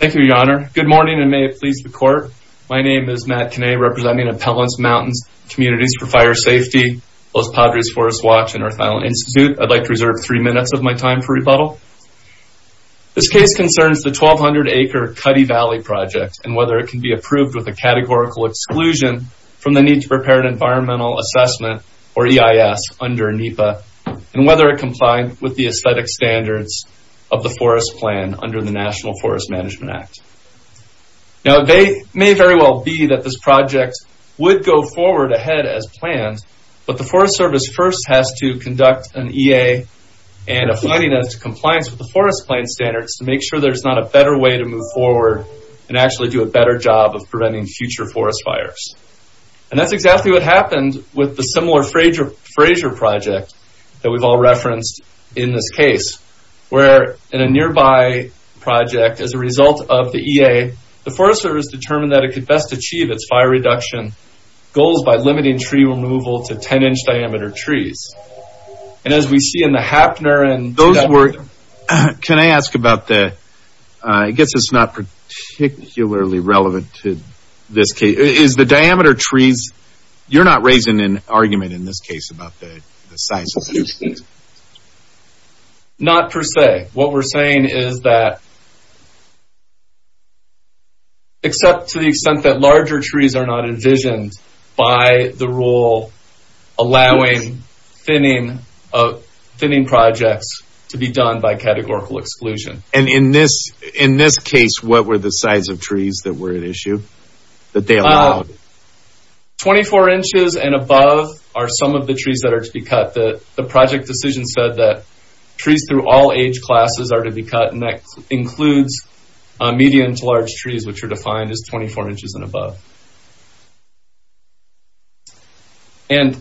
Thank you your honor. Good morning and may it please the court. My name is Matt Kinne representing Appellants Mountains Communities for Fire Safety, Los Padres Forest Watch and Earth Island Institute. I'd like to reserve three minutes of my time for rebuttal. This case concerns the 1,200 acre Cuddy Valley project and whether it can be approved with a categorical exclusion from the need to prepare an environmental assessment or EIS under NEPA and whether it complied with the aesthetic standards of the forest plan under the National Forest Management Act. Now they may very well be that this project would go forward ahead as planned but the Forest Service first has to conduct an EA and a finding of compliance with the forest plan standards to make sure there's not a better way to move forward and actually do a better job of preventing future forest fires. And that's exactly what happened with the similar Frazier project that we've all referenced in this case where in a nearby project as a result of the EA the Forest Service determined that it could best achieve its fire reduction goals by limiting tree removal to 10 inch diameter trees. And as we see in the Happner and those were... Can I ask about that I guess it's not particularly relevant to this case is the diameter trees you're not raising an argument in this case about the size of the trees. Not per se what we're saying is that except to the extent that larger trees are not envisioned by the rule allowing thinning of thinning projects to be done by categorical exclusion. And in this in this case what were the size of trees that were at issue that they 24 inches and above are some of the trees that are to be cut that the project decision said that trees through all age classes are to be cut and that includes medium to large trees which are defined as 24 inches and above. And...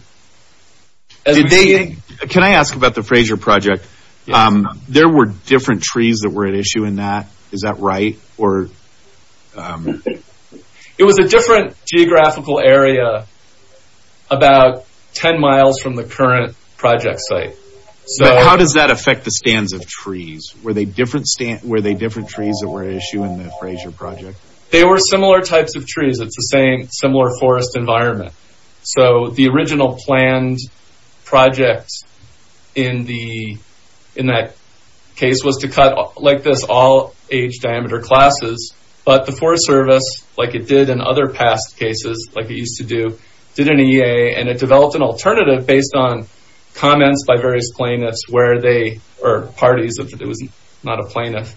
Can I ask about the Frazier project there were different trees that were at issue in that is that right or... It was a different geographical area about 10 miles from the current project site. So how does that affect the stands of trees? Were they different trees that were at issue in the Frazier project? They were similar types of trees it's the same similar forest environment so the this all age diameter classes but the Forest Service like it did in other past cases like it used to do did an EA and it developed an alternative based on comments by various plaintiffs where they or parties if it was not a plaintiff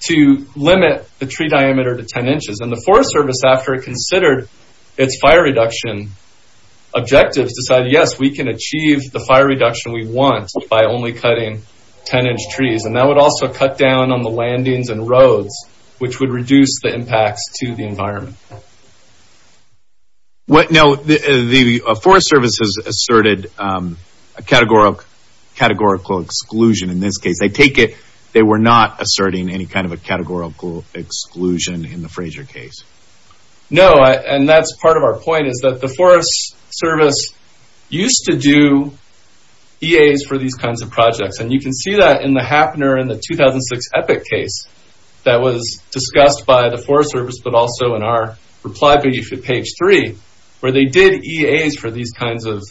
to limit the tree diameter to 10 inches and the Forest Service after it considered its fire reduction objectives decided yes we can achieve the fire reduction we want by only cutting 10-inch trees and that would also cut down on the landings and roads which would reduce the impacts to the environment. What now the Forest Service has asserted a categorical exclusion in this case they take it they were not asserting any kind of a categorical exclusion in the Frazier case. No and that's part of our point is that the Forest Service used to do EAs for these kinds of projects and you can see that in the Happener in the 2006 Epic case that was discussed by the Forest Service but also in our reply page 3 where they did EAs for these kinds of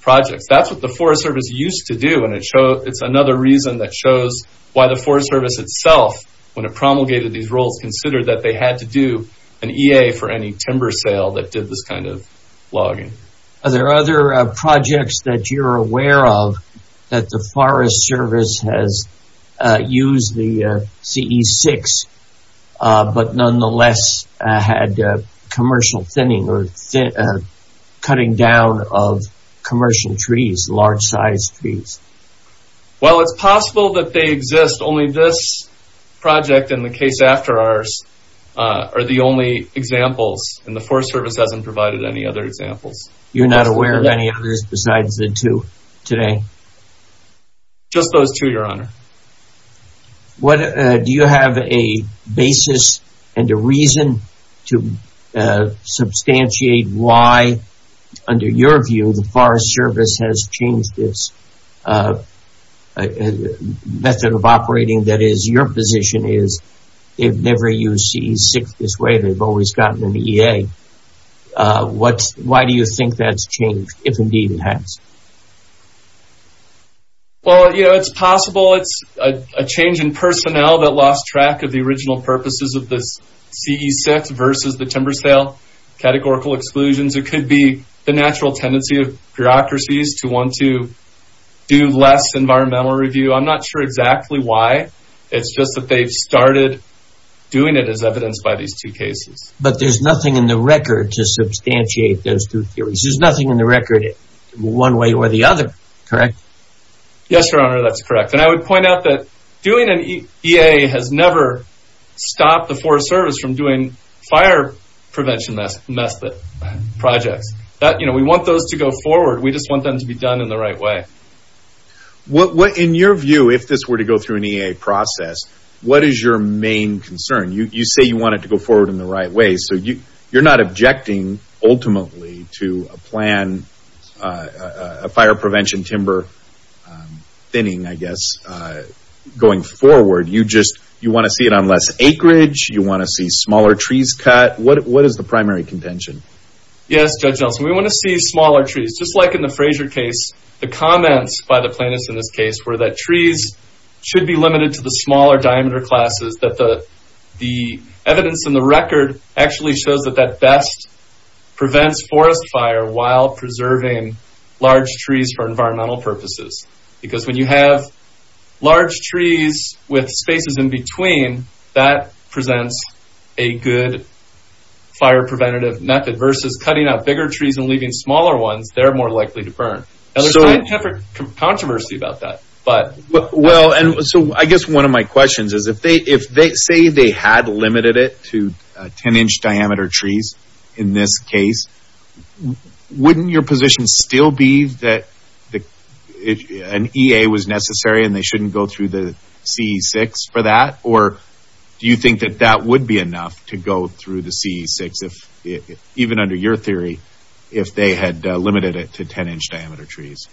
projects. That's what the Forest Service used to do and it shows it's another reason that shows why the Forest Service itself when it promulgated these rules considered that they had to do an EA for any timber sale that did this kind of logging. Are there other projects that you're aware of that the Forest Service has used the CE-6 but nonetheless had commercial thinning or cutting down of commercial trees large size trees? Well it's possible that they exist only this project in the case after ours are the only examples and the other examples. You're not aware of any others besides the two today? Just those two your honor. What do you have a basis and a reason to substantiate why under your view the Forest Service has changed this method of operating that is your position is they've never used CE-6 this way they've always gotten an EA. Why do you think that's changed if indeed it has? Well you know it's possible it's a change in personnel that lost track of the original purposes of this CE-6 versus the timber sale categorical exclusions. It could be the natural tendency of bureaucracies to want to do less environmental review. I'm just that they've started doing it as evidenced by these two cases. But there's nothing in the record to substantiate those two theories. There's nothing in the record one way or the other correct? Yes your honor that's correct and I would point out that doing an EA has never stopped the Forest Service from doing fire prevention method projects that you know we want those to go forward we just want them to be done in the right way. What in your process what is your main concern? You say you want it to go forward in the right way so you you're not objecting ultimately to a plan a fire prevention timber thinning I guess going forward you just you want to see it on less acreage you want to see smaller trees cut what what is the primary contention? Yes Judge Nelson we want to see smaller trees just like in the Frazier case the trees should be limited to the smaller diameter classes that the the evidence in the record actually shows that that best prevents forest fire while preserving large trees for environmental purposes because when you have large trees with spaces in between that presents a good fire preventative method versus cutting out bigger trees and leaving smaller ones they're more likely to burn. I have controversy about that but well and so I guess one of my questions is if they if they say they had limited it to 10 inch diameter trees in this case wouldn't your position still be that the an EA was necessary and they shouldn't go through the CE6 for that or do you think that that would be enough to go through the CE6 if even under your theory if they had limited it to 10 inch diameter trees?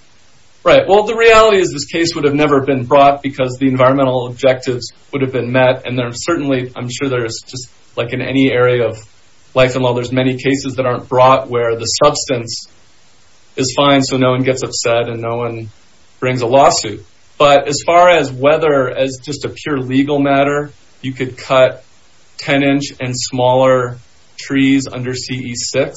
Right well the reality is this case would have never been brought because the environmental objectives would have been met and they're certainly I'm sure there's just like in any area of life and well there's many cases that aren't brought where the substance is fine so no one gets upset and no one brings a lawsuit but as far as whether as just a pure legal matter you could cut 10 inch and smaller trees under CE6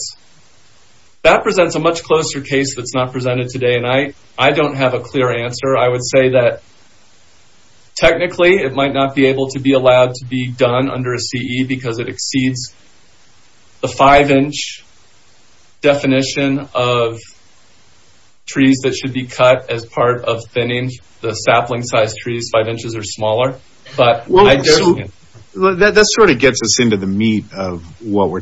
that presents a much closer case that's not presented today and I I don't have a clear answer I would say that technically it might not be able to be allowed to be done under a CE because it exceeds the five inch definition of trees that should be cut as part of thinning the sapling size trees five inches or smaller but well that sort of gets us into the meat of what we're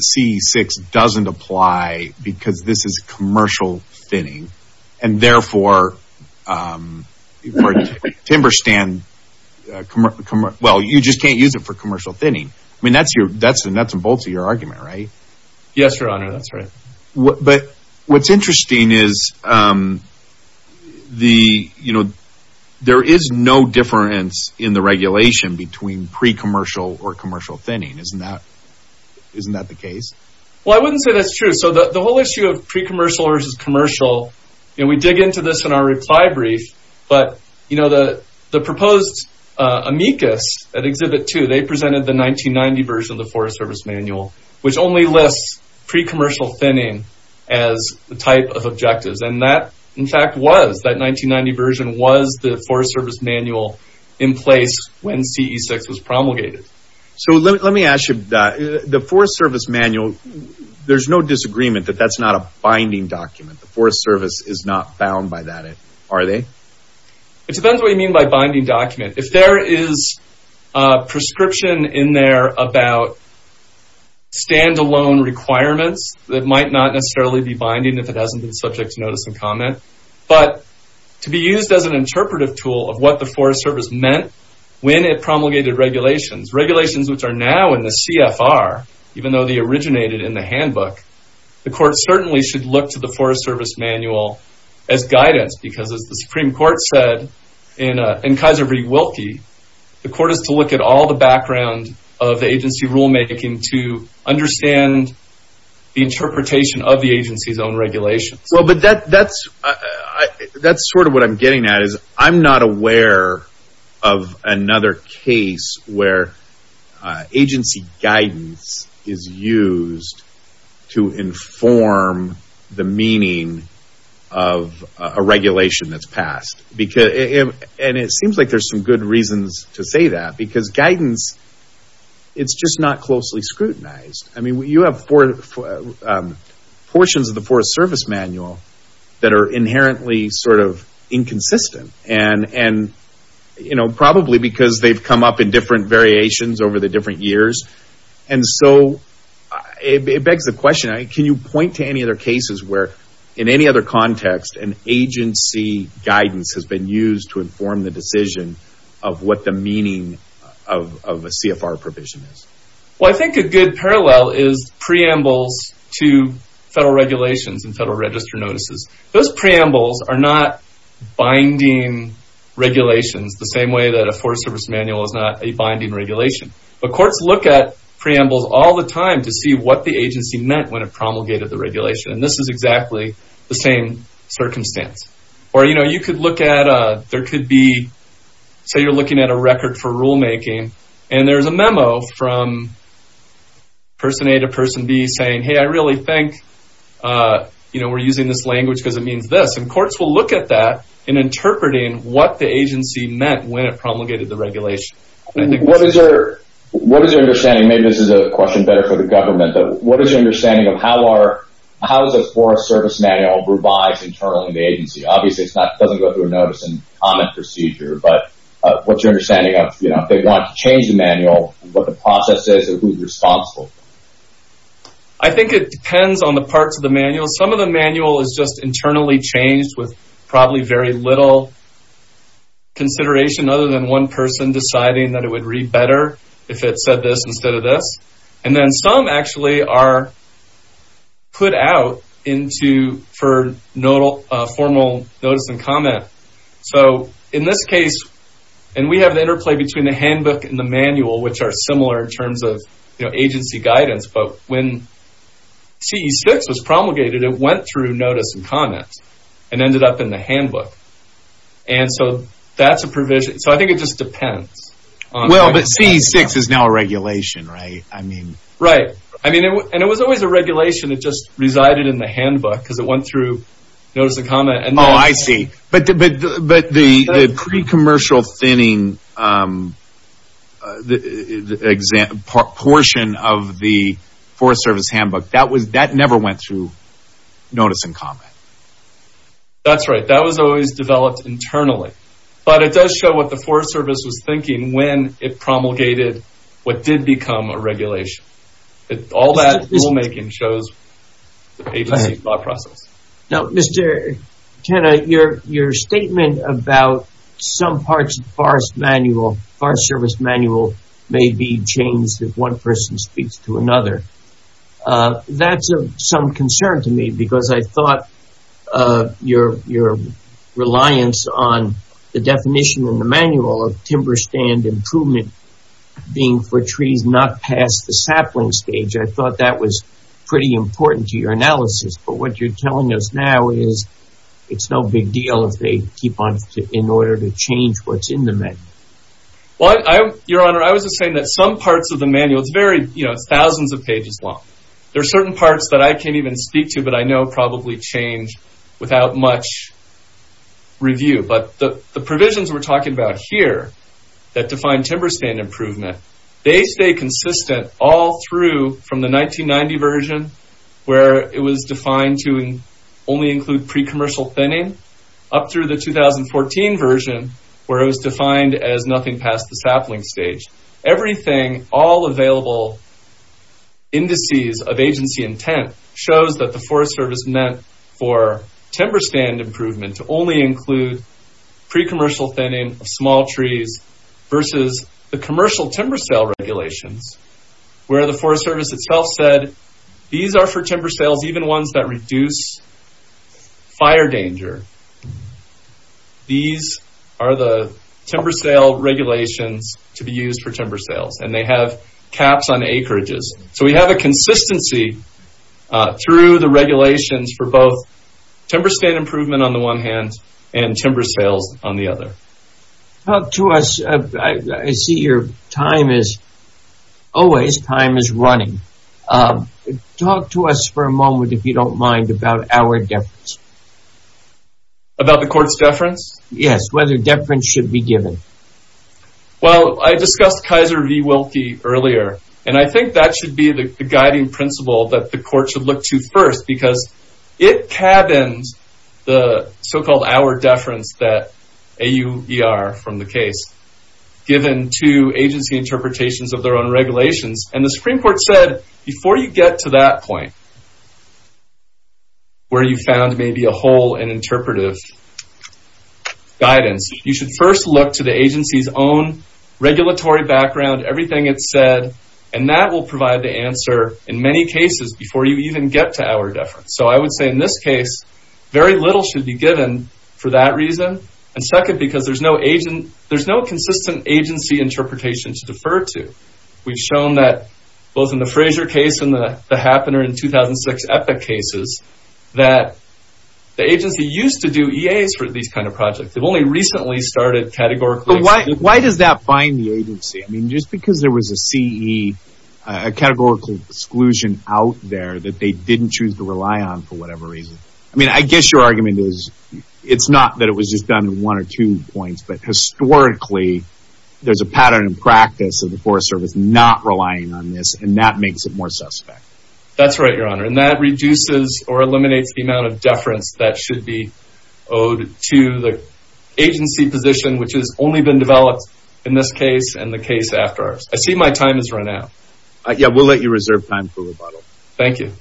CE6 doesn't apply because this is commercial thinning and therefore timber stand well you just can't use it for commercial thinning I mean that's your that's the nuts and bolts of your argument right yes your honor that's right what but what's interesting is the you know there is no difference in the regulation between pre commercial or commercial thinning isn't that isn't that the case well I wouldn't say that's true so that the whole issue of pre commercial versus commercial and we dig into this in our reply brief but you know the the proposed amicus at exhibit two they presented the 1990 version of the Forest Service manual which only lists pre commercial thinning as the type of objectives and that in fact was that 1990 version was the Forest Service manual in place when CE6 was promulgated so let me ask you that the Forest Service manual there's no disagreement that that's not a binding document the Forest Service is not bound by that it are they it depends what you mean by binding document if there is a prescription in there about standalone requirements that might not necessarily be binding if it hasn't been subject to notice and comment but to be used as an interpretive tool of what the Forest Service meant when it promulgated regulations regulations which are now in the CFR even though the originated in the handbook the court certainly should look to the Forest Service manual as guidance because as the Supreme Court said in in Kaiser v. Wilkie the court is to look at all the background of the agency rulemaking to understand the interpretation of the agency's own regulations well but that that's that's sort of what I'm getting at is I'm not aware of another case where agency guidance is used to inform the meaning of a regulation that's passed because it and it seems like there's some good reasons to say that because guidance it's just not closely scrutinized I mean you have four portions of the Forest Service manual that are inherently sort of inconsistent and and you know probably because they've come up in different variations over the different years and so it begs the question I can you point to any other cases where in any other context an agency guidance has been used to inform the decision of what the meaning of a CFR provision is well I think a good parallel is preambles to federal regulations and federal register notices those preambles are not binding regulations the same way that a Forest Service manual is not a binding regulation but courts look at preambles all the time to see what the agency meant when it promulgated the regulation and this is exactly the same circumstance or you know you could look at there could be so you're looking at a record for rulemaking and there's a memo from person A to person B saying hey I really think you know we're using this language because it means this and courts will look at that in interpreting what the agency meant when it promulgated the regulation. What is your what is your understanding maybe this is a question better for the government though what is your understanding of how are how is a Forest Service manual revised internally in the agency obviously it's not doesn't go through a notice and comment procedure but what's your understanding of you know if they want to change the manual what the process is who's responsible? I think it is just internally changed with probably very little consideration other than one person deciding that it would read better if it said this instead of this and then some actually are put out into for no formal notice and comment so in this case and we have the interplay between the handbook and the manual which are similar in terms of you know agency guidance but when CE 6 was promulgated it went through notice and comments and ended up in the handbook and so that's a provision so I think it just depends on well but CE 6 is now a regulation right I mean right I mean and it was always a regulation it just resided in the handbook because it went through notice a comment and oh I see but but but the pre commercial thinning the exact portion of the Forest Service handbook that was that never went through notice and comment. That's right that was always developed internally but it does show what the Forest Service was thinking when it promulgated what did become a regulation it all that rulemaking shows the agency thought process. Now Mr. Kenna your your statement about some parts of the Forest Service manual may be changed if that's of some concern to me because I thought your your reliance on the definition in the manual of timber stand improvement being for trees not past the sapling stage I thought that was pretty important to your analysis but what you're telling us now is it's no big deal if they keep on in order to change what's in the manual. What I your honor I was just saying that some parts of the There are certain parts that I can't even speak to but I know probably change without much review but the provisions we're talking about here that define timber stand improvement they stay consistent all through from the 1990 version where it was defined to only include pre commercial thinning up through the 2014 version where it was defined as nothing past the sapling stage everything all available indices of agency intent shows that the Forest Service meant for timber stand improvement to only include pre commercial thinning of small trees versus the commercial timber sale regulations where the Forest Service itself said these are for timber sales even ones that reduce fire danger. These are the timber sale regulations to be used for timber sales and they have caps on acreages so we have a consistency through the regulations for both timber stand improvement on the one hand and timber sales on the other. Talk to us I see your time is always time is running. Talk to us for a moment if you don't mind about our deference. About the court's deference? Yes whether deference should be given. Well I discussed Kaiser v. Wilkie earlier and I think that should be the guiding principle that the court should look to first because it cabins the so-called our deference that AUER from the case given to agency interpretations of their own before you get to that point where you found maybe a hole in interpretive guidance you should first look to the agency's own regulatory background everything it said and that will provide the answer in many cases before you even get to our deference. So I would say in this case very little should be given for that reason and second because there's no consistent agency interpretation to defer to. We've shown that both in the Frazier case and the Happener in 2006 epic cases that the agency used to do EA's for these kind of projects they've only recently started categorically. Why does that bind the agency I mean just because there was a CE a categorical exclusion out there that they didn't choose to rely on for whatever reason I mean I guess your argument is it's not that it was just done one or two points but historically there's a pattern in practice of the Forest Service not relying on this and that makes it more suspect. That's right your honor and that reduces or eliminates the amount of deference that should be owed to the agency position which is only been developed in this case and the case after ours. I see my time is run out. Yeah we'll let you reserve time for rebuttal. Thank you.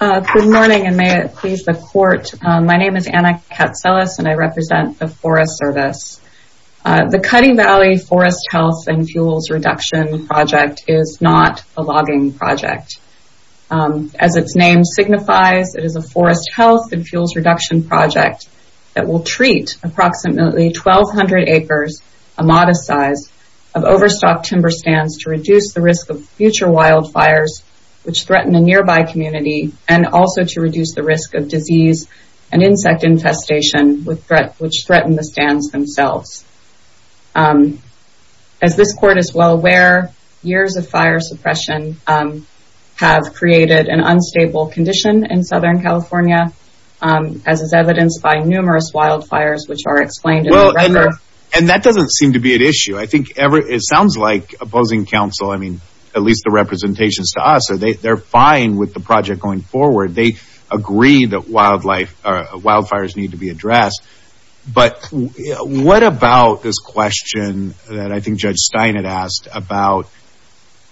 Good morning and may it please the court. My name is Anna Katselis and I represent the Forest Service. The Cutting Valley Forest Health and Fuels Reduction Project is not a logging project. As its name signifies it is a forest health and fuels reduction project that will treat approximately 1,200 acres a modest size of overstock timber stands to reduce the risk of future wildfires which threaten the nearby community and also to reduce the risk of disease and insect infestation with threat which threaten the stands themselves. As this court is well aware years of fire suppression have created an unstable condition in Southern California as is evidenced by numerous wildfires which are explained and that doesn't seem to be an issue. I think ever it sounds like opposing counsel I mean at least the representations to us are they they're fine with the project going forward. They agree that wildlife or wildfires need to be addressed but what about this question that I think Judge Stein had asked about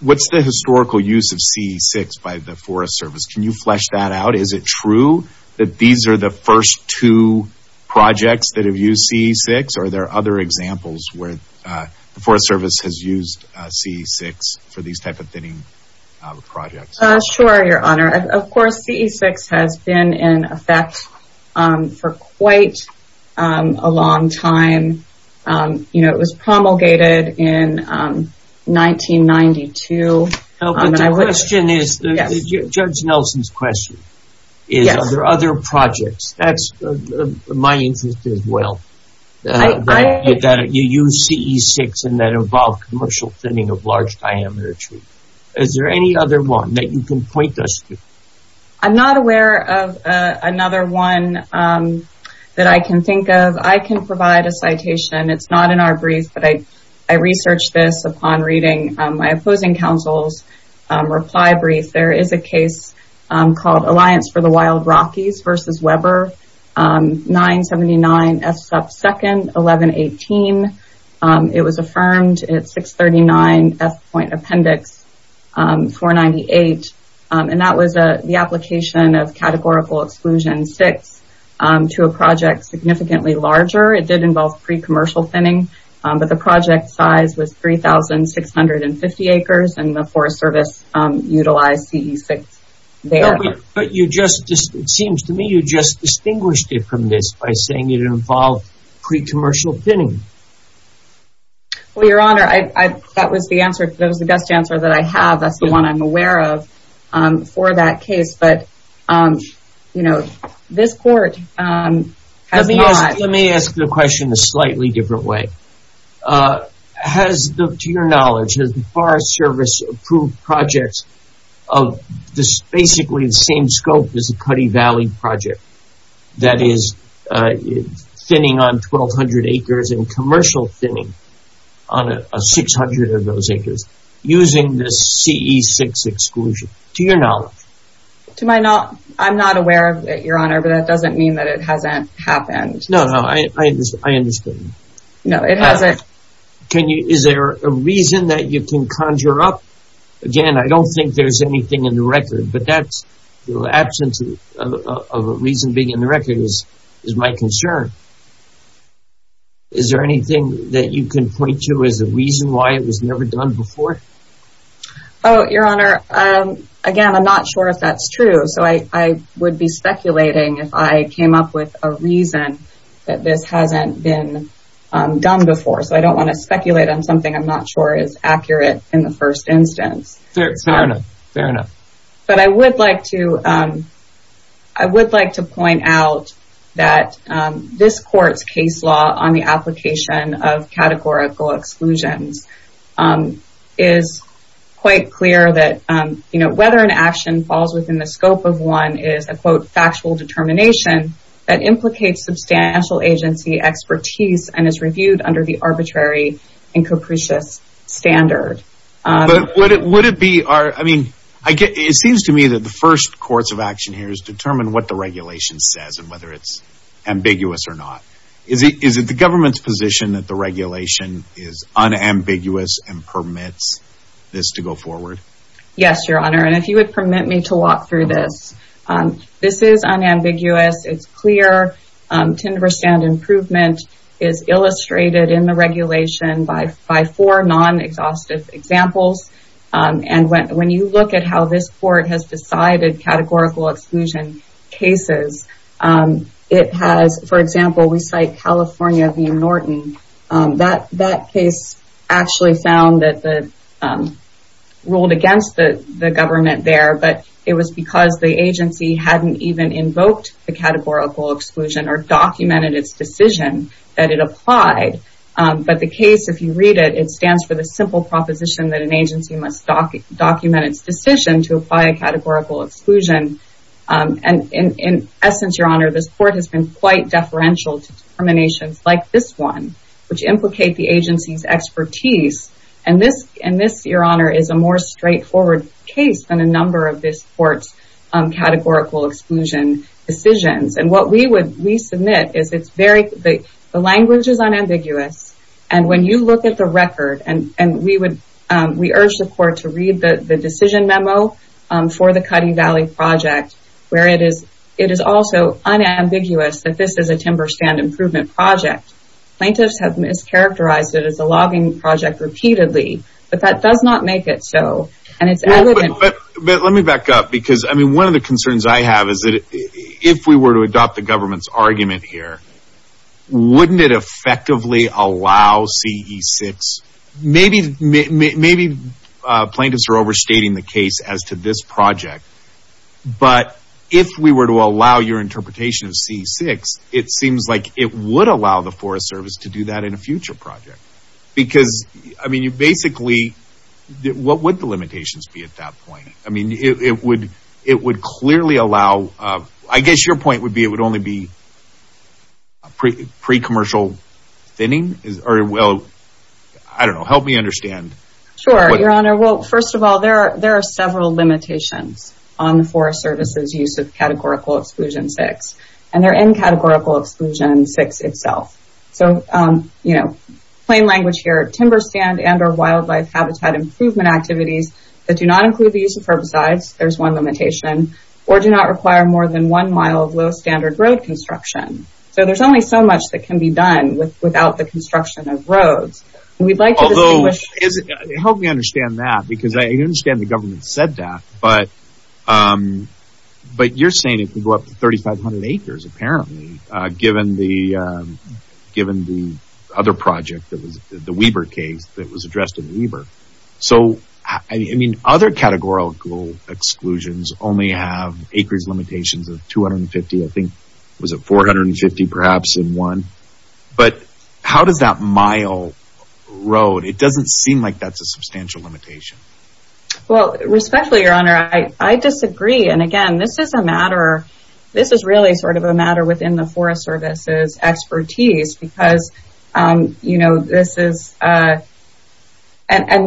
what's the historical use of CE6 by the Forest Service. Can you flesh that out? Is it true that these are the first two projects that have used CE6 or there are other examples where the Forest Service has used CE6 for these type of thinning projects? Sure your honor of course CE6 has been in effect for quite a long time. You know it was promulgated in 1992. The question is Judge Nelson's question is are there other projects that's my interest as well that you use CE6 and that involve commercial thinning of large diameter trees. Is there any other one that you can point us to? I'm not aware of another one that I can think of. I can provide a citation it's not in our brief but I is a case called Alliance for the Wild Rockies versus Weber 979 F sub 2nd 1118. It was affirmed at 639 F point appendix 498 and that was a the application of categorical exclusion six to a project significantly larger. It did involve pre-commercial thinning but the project size was three thousand six hundred and six. But you just it seems to me you just distinguished it from this by saying it involved pre-commercial thinning. Well your honor I that was the answer that was the best answer that I have that's the one I'm aware of for that case but you know this court has not. Let me ask the question a slightly different way. Has the to your knowledge has the Forest Service approved projects of this basically the same scope as a Cuddy Valley project that is thinning on 1,200 acres and commercial thinning on a 600 of those acres using this CE 6 exclusion to your knowledge? To my knowledge I'm not aware of it your honor but that doesn't mean that it hasn't happened. No no I understand. No it hasn't. Can you is there a reason that you can conjure up again I don't think there's anything in the record but that's the absence of a reason being in the record is is my concern. Is there anything that you can point to as a reason why it was never done before? Oh your honor again I'm not sure if that's true so I would be speculating if I came up with a reason that this hasn't been done before so I don't want to speculate on something I'm not sure is accurate in the first instance. Fair enough. But I would like to I would like to point out that this court's case law on the application of categorical exclusions is quite clear that you know whether an action falls within the scope of one is a quote factual determination that implicates substantial agency expertise and is reviewed under the arbitrary and capricious standard. But would it would it be our I mean I get it seems to me that the first course of action here is determine what the regulation says and whether it's ambiguous or not. Is it is it the government's position that the regulation is unambiguous and permits this to go forward? Yes your honor and if you would permit me to walk through this this is unambiguous it's clear to understand improvement is illustrated in the regulation by by four non-exhaustive examples and when when you look at how this court has decided categorical exclusion cases it has for example we cite California v. Norton that that case actually found that the ruled against the government there but it was because the agency hadn't even invoked the categorical exclusion or documented its decision that it applied but the case if you read it it stands for the simple proposition that an agency must document its decision to apply a categorical exclusion and in essence your honor this court has been quite deferential to determinations like this one which implicate the agency's expertise and this and this your honor is a more straightforward case than a number of this court's categorical exclusion decisions and what we would we submit is it's very the language is unambiguous and when you look at the record and and we would we urge the court to read the decision memo for the Cutting Valley project where it is it is also unambiguous that this is a timber stand improvement project plaintiffs have mischaracterized it as a logging project repeatedly but that does not make it so but let me back up because I mean one of the concerns I have is that if we were to adopt the government's argument here wouldn't it effectively allow ce6 maybe maybe plaintiffs are overstating the case as to this project but if we were to allow your interpretation of ce6 it seems like it would allow the Forest Service to do that in a future project because I mean you basically did what would the limitations be at that point I mean it would it would clearly allow I guess your point would be it would only be pre commercial thinning is very well I don't know help me understand sure your honor well first of all there are there are several limitations on the Forest Service's use of categorical exclusion six and they're in categorical exclusion six itself so you know plain activities that do not include the use of herbicides there's one limitation or do not require more than one mile of low standard road construction so there's only so much that can be done with without the construction of roads we'd like to help me understand that because I understand the government said that but but you're saying if we go up to 3,500 acres apparently given the given the other project that was the Weber case that was addressed in Weber so I mean other categorical exclusions only have acres limitations of 250 I think was it 450 perhaps in one but how does that mile road it doesn't seem like that's a substantial limitation well respectfully your honor I disagree and again this is a matter this is really sort of a matter within the Forest Service's expertise because you know this is and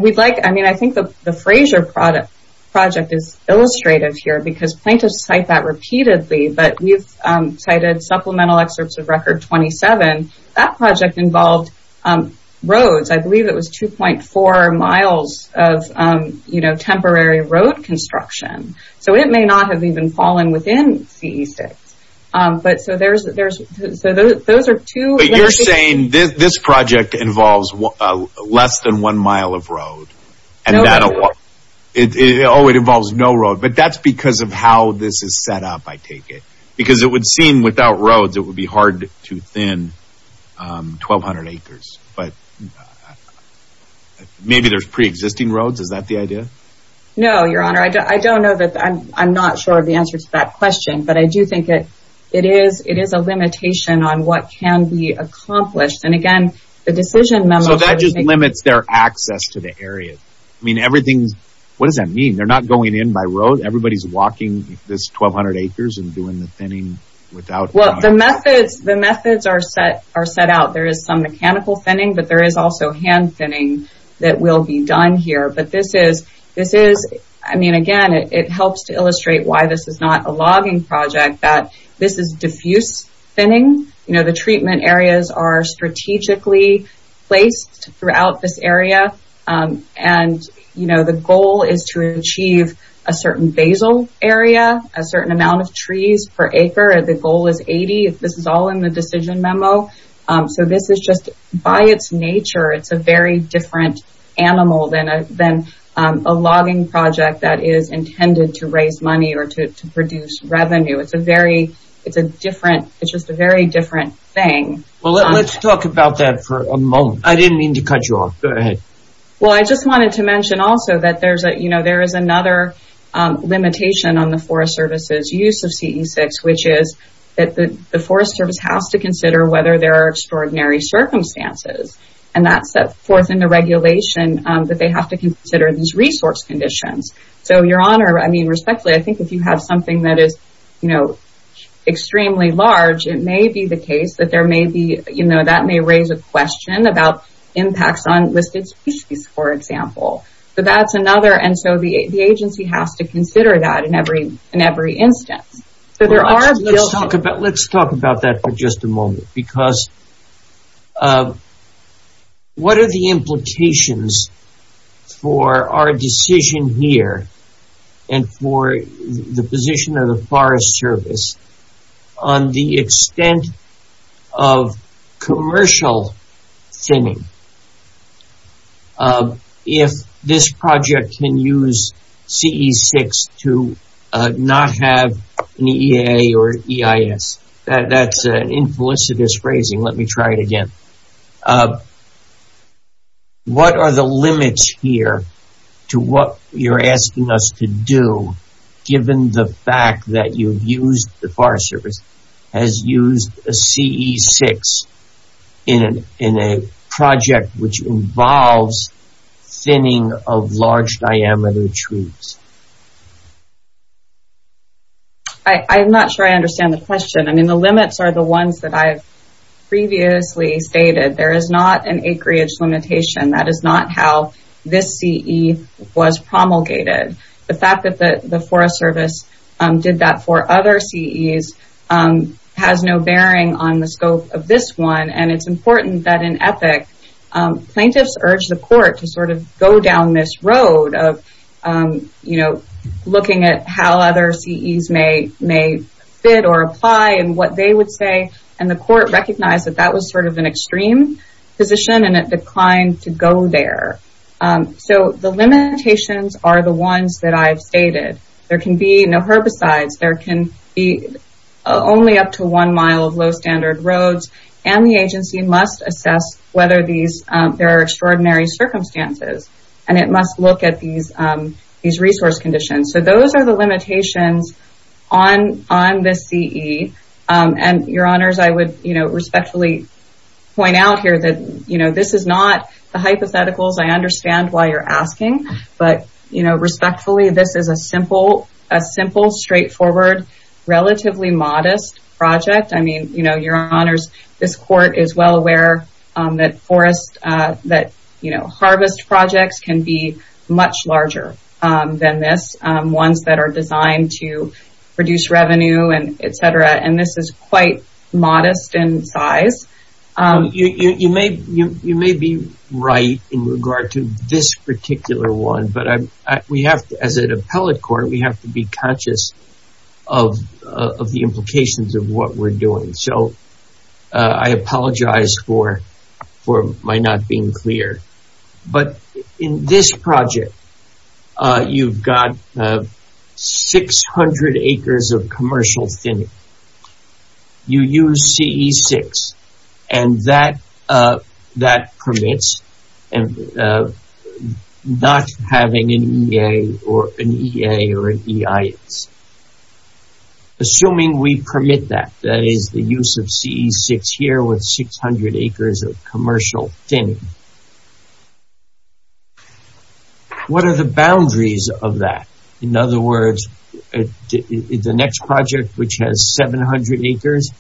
we'd like I mean I think the the Frazier product project is illustrative here because plaintiffs cite that repeatedly but we've cited supplemental excerpts of record 27 that project involved roads I believe it was 2.4 miles of you know temporary road construction so it may not have even fallen within ce6 but so there's there's those are two but you're saying this this project involves less than one mile of road and it always involves no road but that's because of how this is set up I take it because it would seem without roads it would be hard to thin 1200 acres but maybe there's pre-existing roads is that the idea no your honor I don't know that I'm I'm not sure of the answer to that question but I do think it it is it is a limitation on what can be accomplished and again the decision so that just limits their access to the area I mean everything's what does that mean they're not going in by road everybody's walking this 1200 acres and doing the thinning without well the methods the methods are set are set out there is some mechanical thinning but there is also hand thinning that will be done here but this is this is I mean again it helps to illustrate why this is not a logging project that this is diffuse thinning you know the treatment areas are strategically placed throughout this area and you know the goal is to achieve a certain basal area a certain amount of trees per acre the goal is 80 this is all in the decision memo so this is just by its nature it's a very different animal than a than a logging project that is intended to produce revenue it's a very it's a different it's just a very different thing well let's talk about that for a moment I didn't mean to cut you off go ahead well I just wanted to mention also that there's a you know there is another limitation on the Forest Service's use of ce6 which is that the Forest Service has to consider whether there are extraordinary circumstances and that's that fourth in the regulation that they have to consider these resource conditions so your honor I mean respectfully I think if you have something that is you know extremely large it may be the case that there may be you know that may raise a question about impacts on listed species for example but that's another and so the agency has to consider that in every in every instance so there are let's talk about let's talk about that for just a moment because what are the implications for our decision here and for the position of the Forest Service on the extent of commercial thinning if this project can use ce6 to not have an EA or EIS that's an implicit is phrasing let me try it again what are the limits here to what you're asking us to do given the fact that you've used the Forest Service has used a ce6 in an in a project which involves thinning of large diameter trees I'm not sure I understand the question I mean the limits are the ones that I've previously stated there is not an acreage limitation that is not how this CE was promulgated the fact that the the Forest Service did that for other CEs has no bearing on the scope of this one and it's important that in ethic plaintiffs urge the court to sort of go down this road of you know looking at how other CEs may may fit or apply and what they would say and the court recognized that that was sort of an extreme position and it declined to go there so the limitations are the ones that I've stated there can be no herbicides there can be only up to one mile of low standard roads and the agency must assess whether these there are extraordinary circumstances and it must look at these these resource conditions so those are the limitations on on this CE and your honors I would you know respectfully point out here that you know this is not the this is a simple a simple straightforward relatively modest project I mean you know your honors this court is well aware that forest that you know harvest projects can be much larger than this ones that are designed to reduce revenue and etc and this is quite modest in size you may you may be right in regard to this particular one but we have as an appellate court we have to be conscious of the implications of what we're doing so I apologize for for my not being clear but in this project you've got 600 acres of commercial thinning you use CE6 and that that permits and not having an EA or an EA or an EIS assuming we permit that that is the use of CE6 here with 600 acres of commercial thinning what are the boundaries of that in other words the next project which has 700 acres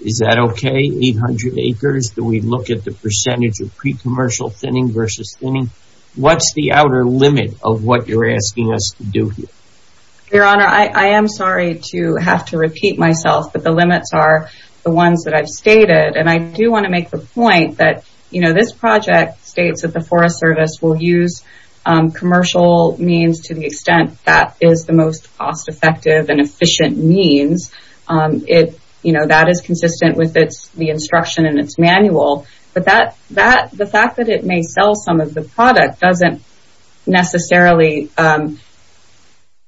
is that okay 800 acres do we look at the percentage of pre-commercial thinning versus thinning what's the outer limit of what you're asking us to do here your honor I am sorry to have to repeat myself but the limits are the ones that I've stated and I do want to make the point that you know this project states that the Forest Service will use commercial means to the extent that is the most cost-effective and efficient means it you know that is consistent with its the instruction in its manual but that that the fact that it may sell some of the product doesn't necessarily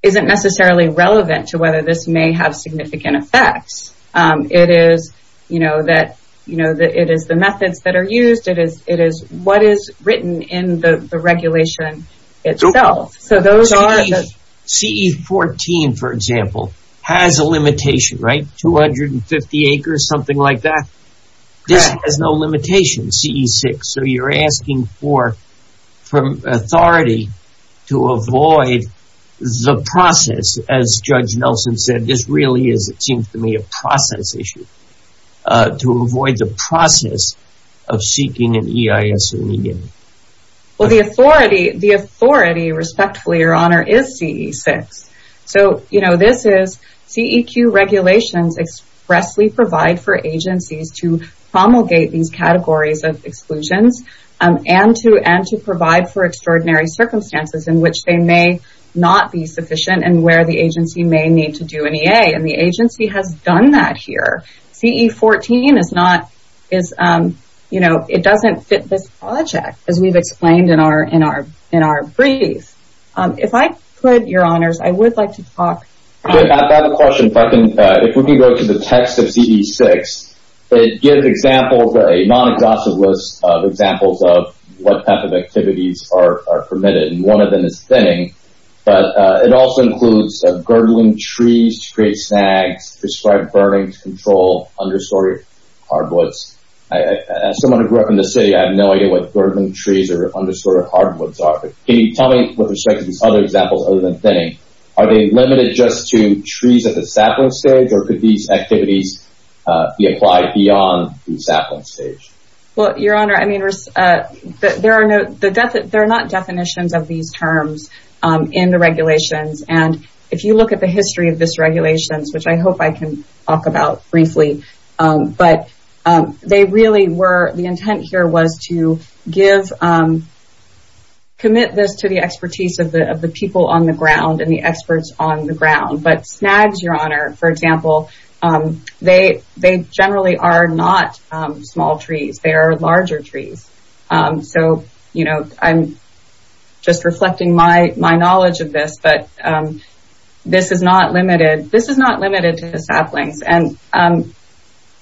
isn't necessarily relevant to whether this may have significant effects it is you know that you know that it is the methods that are used it is it is what is written in the regulation itself so those are the CE14 for example has a limitation right 250 acres something like that this has no limitation CE6 so you're asking for from authority to avoid the process as Judge Nelson said this really is it seems to me a process issue to avoid the process of seeking an EIS immediately. Well the authority the authority respectfully your honor is CE6 so you know this is CEQ regulations expressly provide for agencies to promulgate these categories of exclusions and to and to provide for extraordinary circumstances in which they may not be sufficient and where the agency may need to do an EA and the project as we've explained in our in our in our brief if I put your honors I would like to talk about the question if I can if we can go to the text of CE6 it gives examples a non-exhaustive list of examples of what type of activities are permitted and one of them is thinning but it also includes a gurgling trees to create snags prescribed burning to control understory hardwoods. As someone who grew up in the city I have no idea what gurgling trees or understory hardwoods are but can you tell me with respect to these other examples other than thinning are they limited just to trees at the sapling stage or could these activities be applied beyond the sapling stage? Well your honor I mean there are no the death that they're not definitions of these terms in the regulations and if you look at the history of this regulations which I hope I can talk about briefly but they really were the intent here was to give commit this to the expertise of the of the people on the ground and the experts on the ground but snags your honor for example they they generally are not small trees they are larger trees so you know I'm just reflecting my my saplings and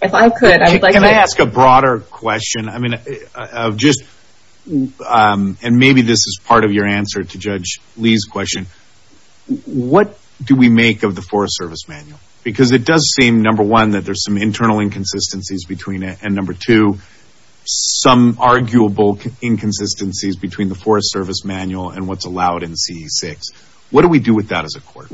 if I could ask a broader question I mean just and maybe this is part of your answer to judge Lee's question what do we make of the Forest Service manual because it does seem number one that there's some internal inconsistencies between it and number two some arguable inconsistencies between the Forest Service manual and what's allowed in CE 6 what do we do with that as a court?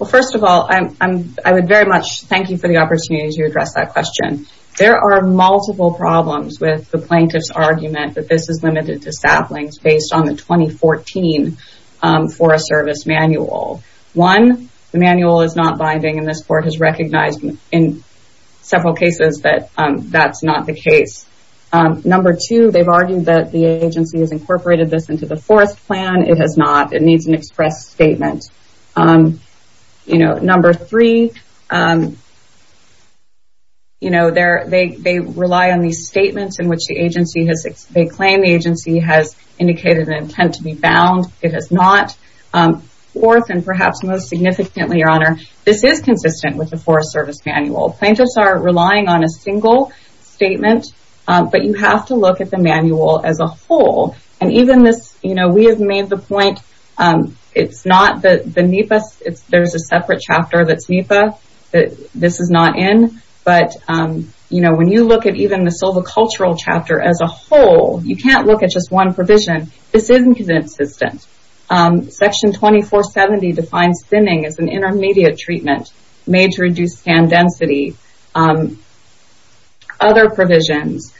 Well first of all I'm I would very much thank you for the opportunity to address that question there are multiple problems with the plaintiff's argument that this is limited to saplings based on the 2014 Forest Service manual one the manual is not binding in this court has recognized in several cases that that's not the case number two they've argued that the agency has incorporated this into the forest plan it has not it needs an express statement you know number three you know there they rely on these statements in which the agency has they claim the agency has indicated an intent to be bound it has not fourth and perhaps most significantly your honor this is consistent with the Forest Service manual plaintiffs are relying on a single statement but you have to look at the manual as a whole and even this you know we have made the point it's not that the NEPA it's there's a separate chapter that's NEPA that this is not in but you know when you look at even the silvicultural chapter as a whole you can't look at just one provision this isn't consistent section 2470 defines thinning as an intermediate treatment made to reduce scan density other provisions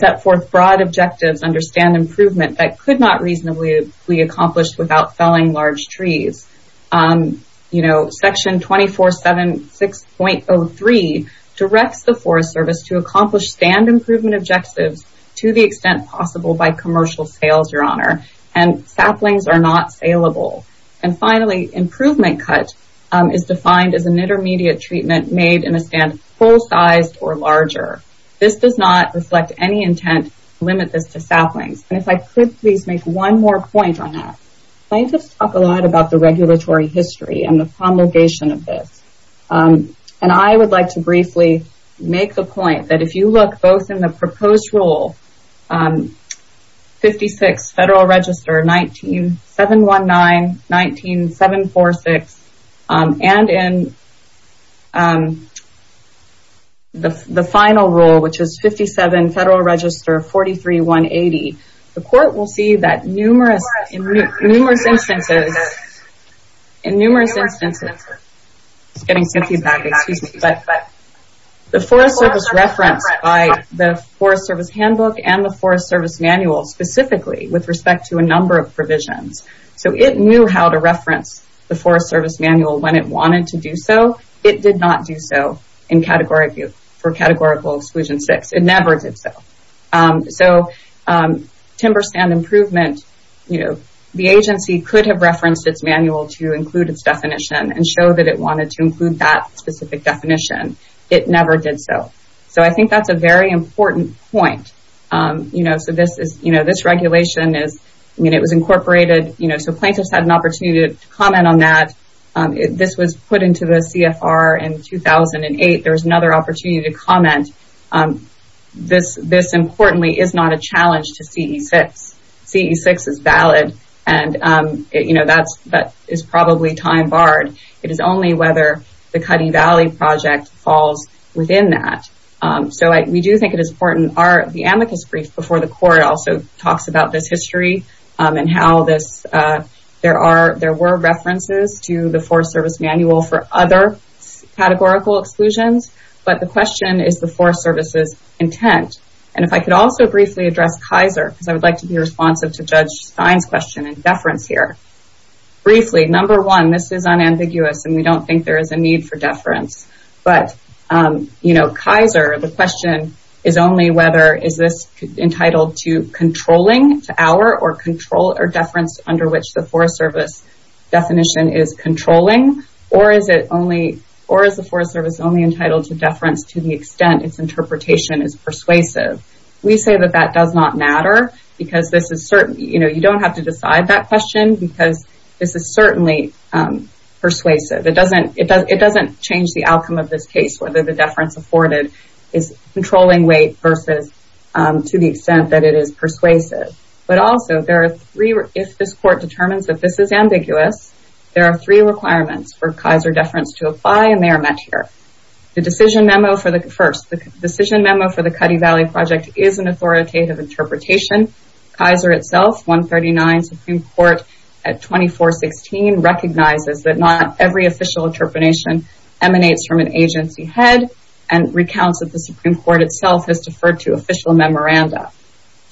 set forth broad objectives understand improvement that could not reasonably be accomplished without felling large trees you know section 2476.03 directs the Forest Service to accomplish stand improvement objectives to the extent possible by commercial sales your honor and saplings are not saleable and finally improvement cut is defined as an intermediate treatment made in a stand full-sized or larger this does not reflect any intent limit this to saplings and if I could please make one more point on that plaintiffs talk a lot about the regulatory history and the promulgation of this and I would like to briefly make the point that if you look both in the proposed rule 56 Federal Register 19-719, 19-746 and in the final rule which is 57 Federal Register 43-180 the court will see that numerous instances in numerous instances getting some feedback excuse me but the Forest Service reference by the Forest Service handbook and the Forest Service manual specifically with respect to a number of provisions so it knew how to it did not do so in category for categorical exclusion six it never did so so timber stand improvement you know the agency could have referenced its manual to include its definition and show that it wanted to include that specific definition it never did so so I think that's a very important point you know so this is you know this regulation is I mean it was incorporated you know so plaintiffs had an opportunity to comment on that this was put into the CFR in 2008 there's another opportunity to comment this this importantly is not a challenge to CE 6 CE 6 is valid and you know that's that is probably time barred it is only whether the Cutting Valley project falls within that so I we do think it is important are the amicus brief before the court also talks about this history and how this there are there were references to the Forest Service manual for other categorical exclusions but the question is the Forest Service's intent and if I could also briefly address Kaiser because I would like to be responsive to judge fines question and deference here briefly number one this is unambiguous and we don't think there is a need for deference but you know Kaiser the question is only whether is this entitled to controlling to our or control or deference under which the Forest Service definition is controlling or is it only or is the Forest Service only entitled to deference to the extent its interpretation is persuasive we say that that does not matter because this is certain you know you don't have to decide that question because this is certainly persuasive it doesn't it does it doesn't change the outcome of this case whether the deference afforded is controlling weight versus to the extent that it is persuasive but also there are three if this court determines that this is ambiguous there are three requirements for Kaiser deference to apply and they are met here the decision memo for the first the decision memo for the Cuddy Valley project is an authoritative interpretation Kaiser itself 139 Supreme Court at 2416 recognizes that not every official interpretation emanates from an agency head and recounts that the Supreme Court itself has deferred to official memoranda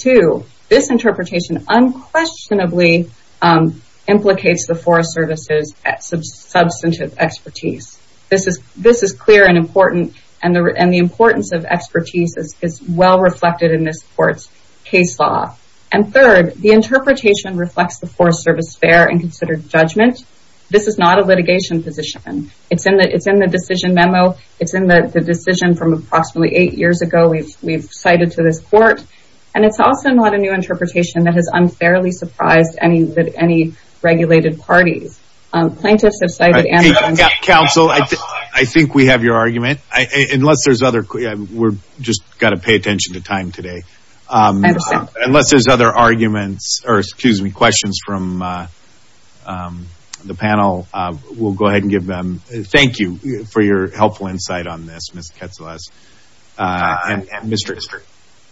to this interpretation unquestionably implicates the Forest Service's substantive expertise this is this is clear and important and the importance of expertise is well reflected in this court's case law and third the interpretation reflects the Forest Service fair and considered judgment this is not a litigation position it's in that it's in the decision memo it's in the decision from approximately eight years ago we've we've cited to this court and it's also not a new interpretation that has unfairly surprised any that any regulated parties plaintiffs have cited and counsel I think we have your argument I unless there's other we're just got to pay attention to time today unless there's other arguments or excuse me questions from the panel we'll go insight on this mr.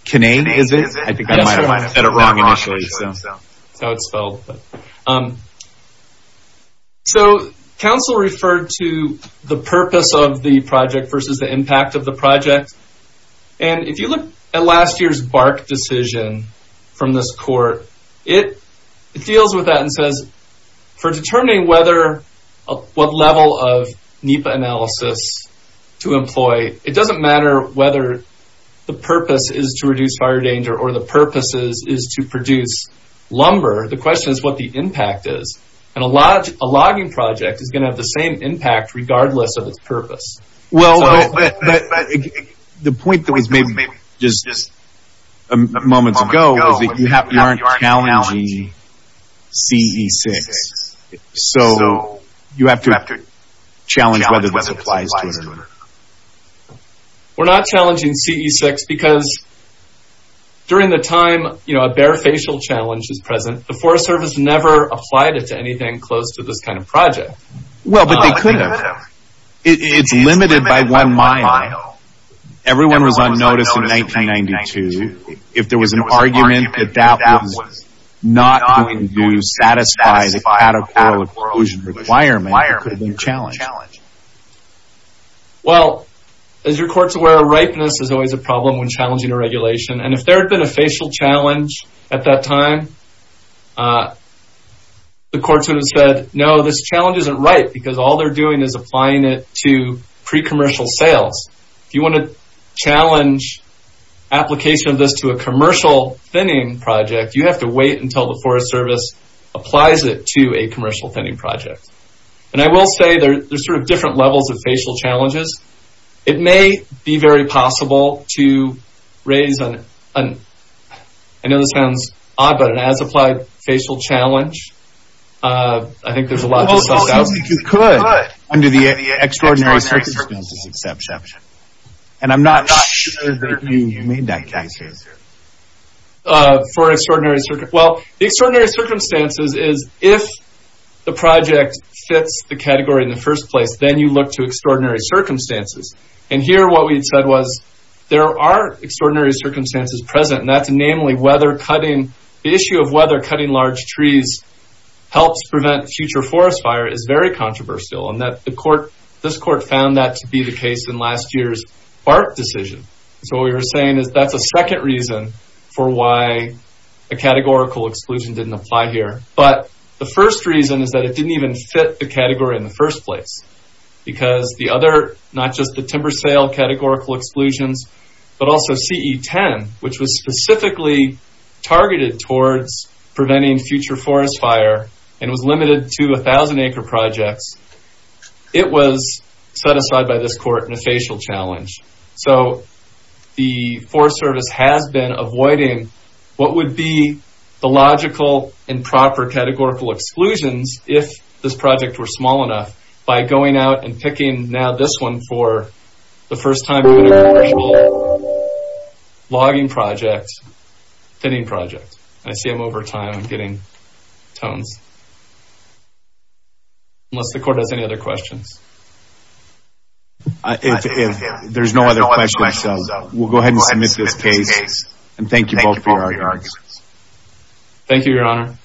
Kinane is it so counsel referred to the purpose of the project versus the impact of the project and if you look at last year's bark decision from this court it it deals with that and says for determining whether what level of NEPA analysis to employ it doesn't matter whether the purpose is to reduce fire danger or the purposes is to produce lumber the question is what the impact is and a lot a logging project is going to have the same impact regardless of its purpose well the point that we've made maybe just a moment ago you have to challenge CE6 so you have to challenge whether this applies to it we're not challenging CE6 because during the time you know a bare facial challenge is present the Forest Service never applied it to anything close to this kind of project well but they could have it's limited by one mile everyone was on notice in 1992 if there was an argument that that was not going to satisfy the cataclysm requirement could have been challenged well as your courts aware of ripeness is always a problem when challenging a regulation and if there had been a facial challenge at that time the courts would have said no this challenge isn't right because all they're doing is applying it to pre challenge application of this to a commercial thinning project you have to wait until the Forest Service applies it to a commercial thinning project and I will say there's sort of different levels of facial challenges it may be very possible to raise an I know this sounds odd but an as applied facial challenge I think there's a lot you could under the extraordinary and I'm not for extraordinary circumstances is if the project fits the category in the first place then you look to extraordinary circumstances and here what we said was there are extraordinary circumstances present and that's namely weather cutting issue of weather cutting large trees helps prevent future forest fire is very controversial and that the court this court found that to be the case in last year's art decision so we were saying is that the second reason for why a categorical exclusion didn't apply here but the first reason is that it didn't even fit the category in the first place because the other not just the timber sale categorical exclusions but also CE10 which was specifically targeted towards preventing future forest fire and was limited to a thousand acre projects it was set aside by this court in a facial challenge so the Forest Service has been avoiding what would be the logical and proper categorical exclusions if this project were small enough by going out and picking now this one for the first time logging projects fitting projects I see I'm over time getting tones unless the court has any other questions if there's no other questions we'll go ahead and admit this case and thank you both for your arguments thank you your honor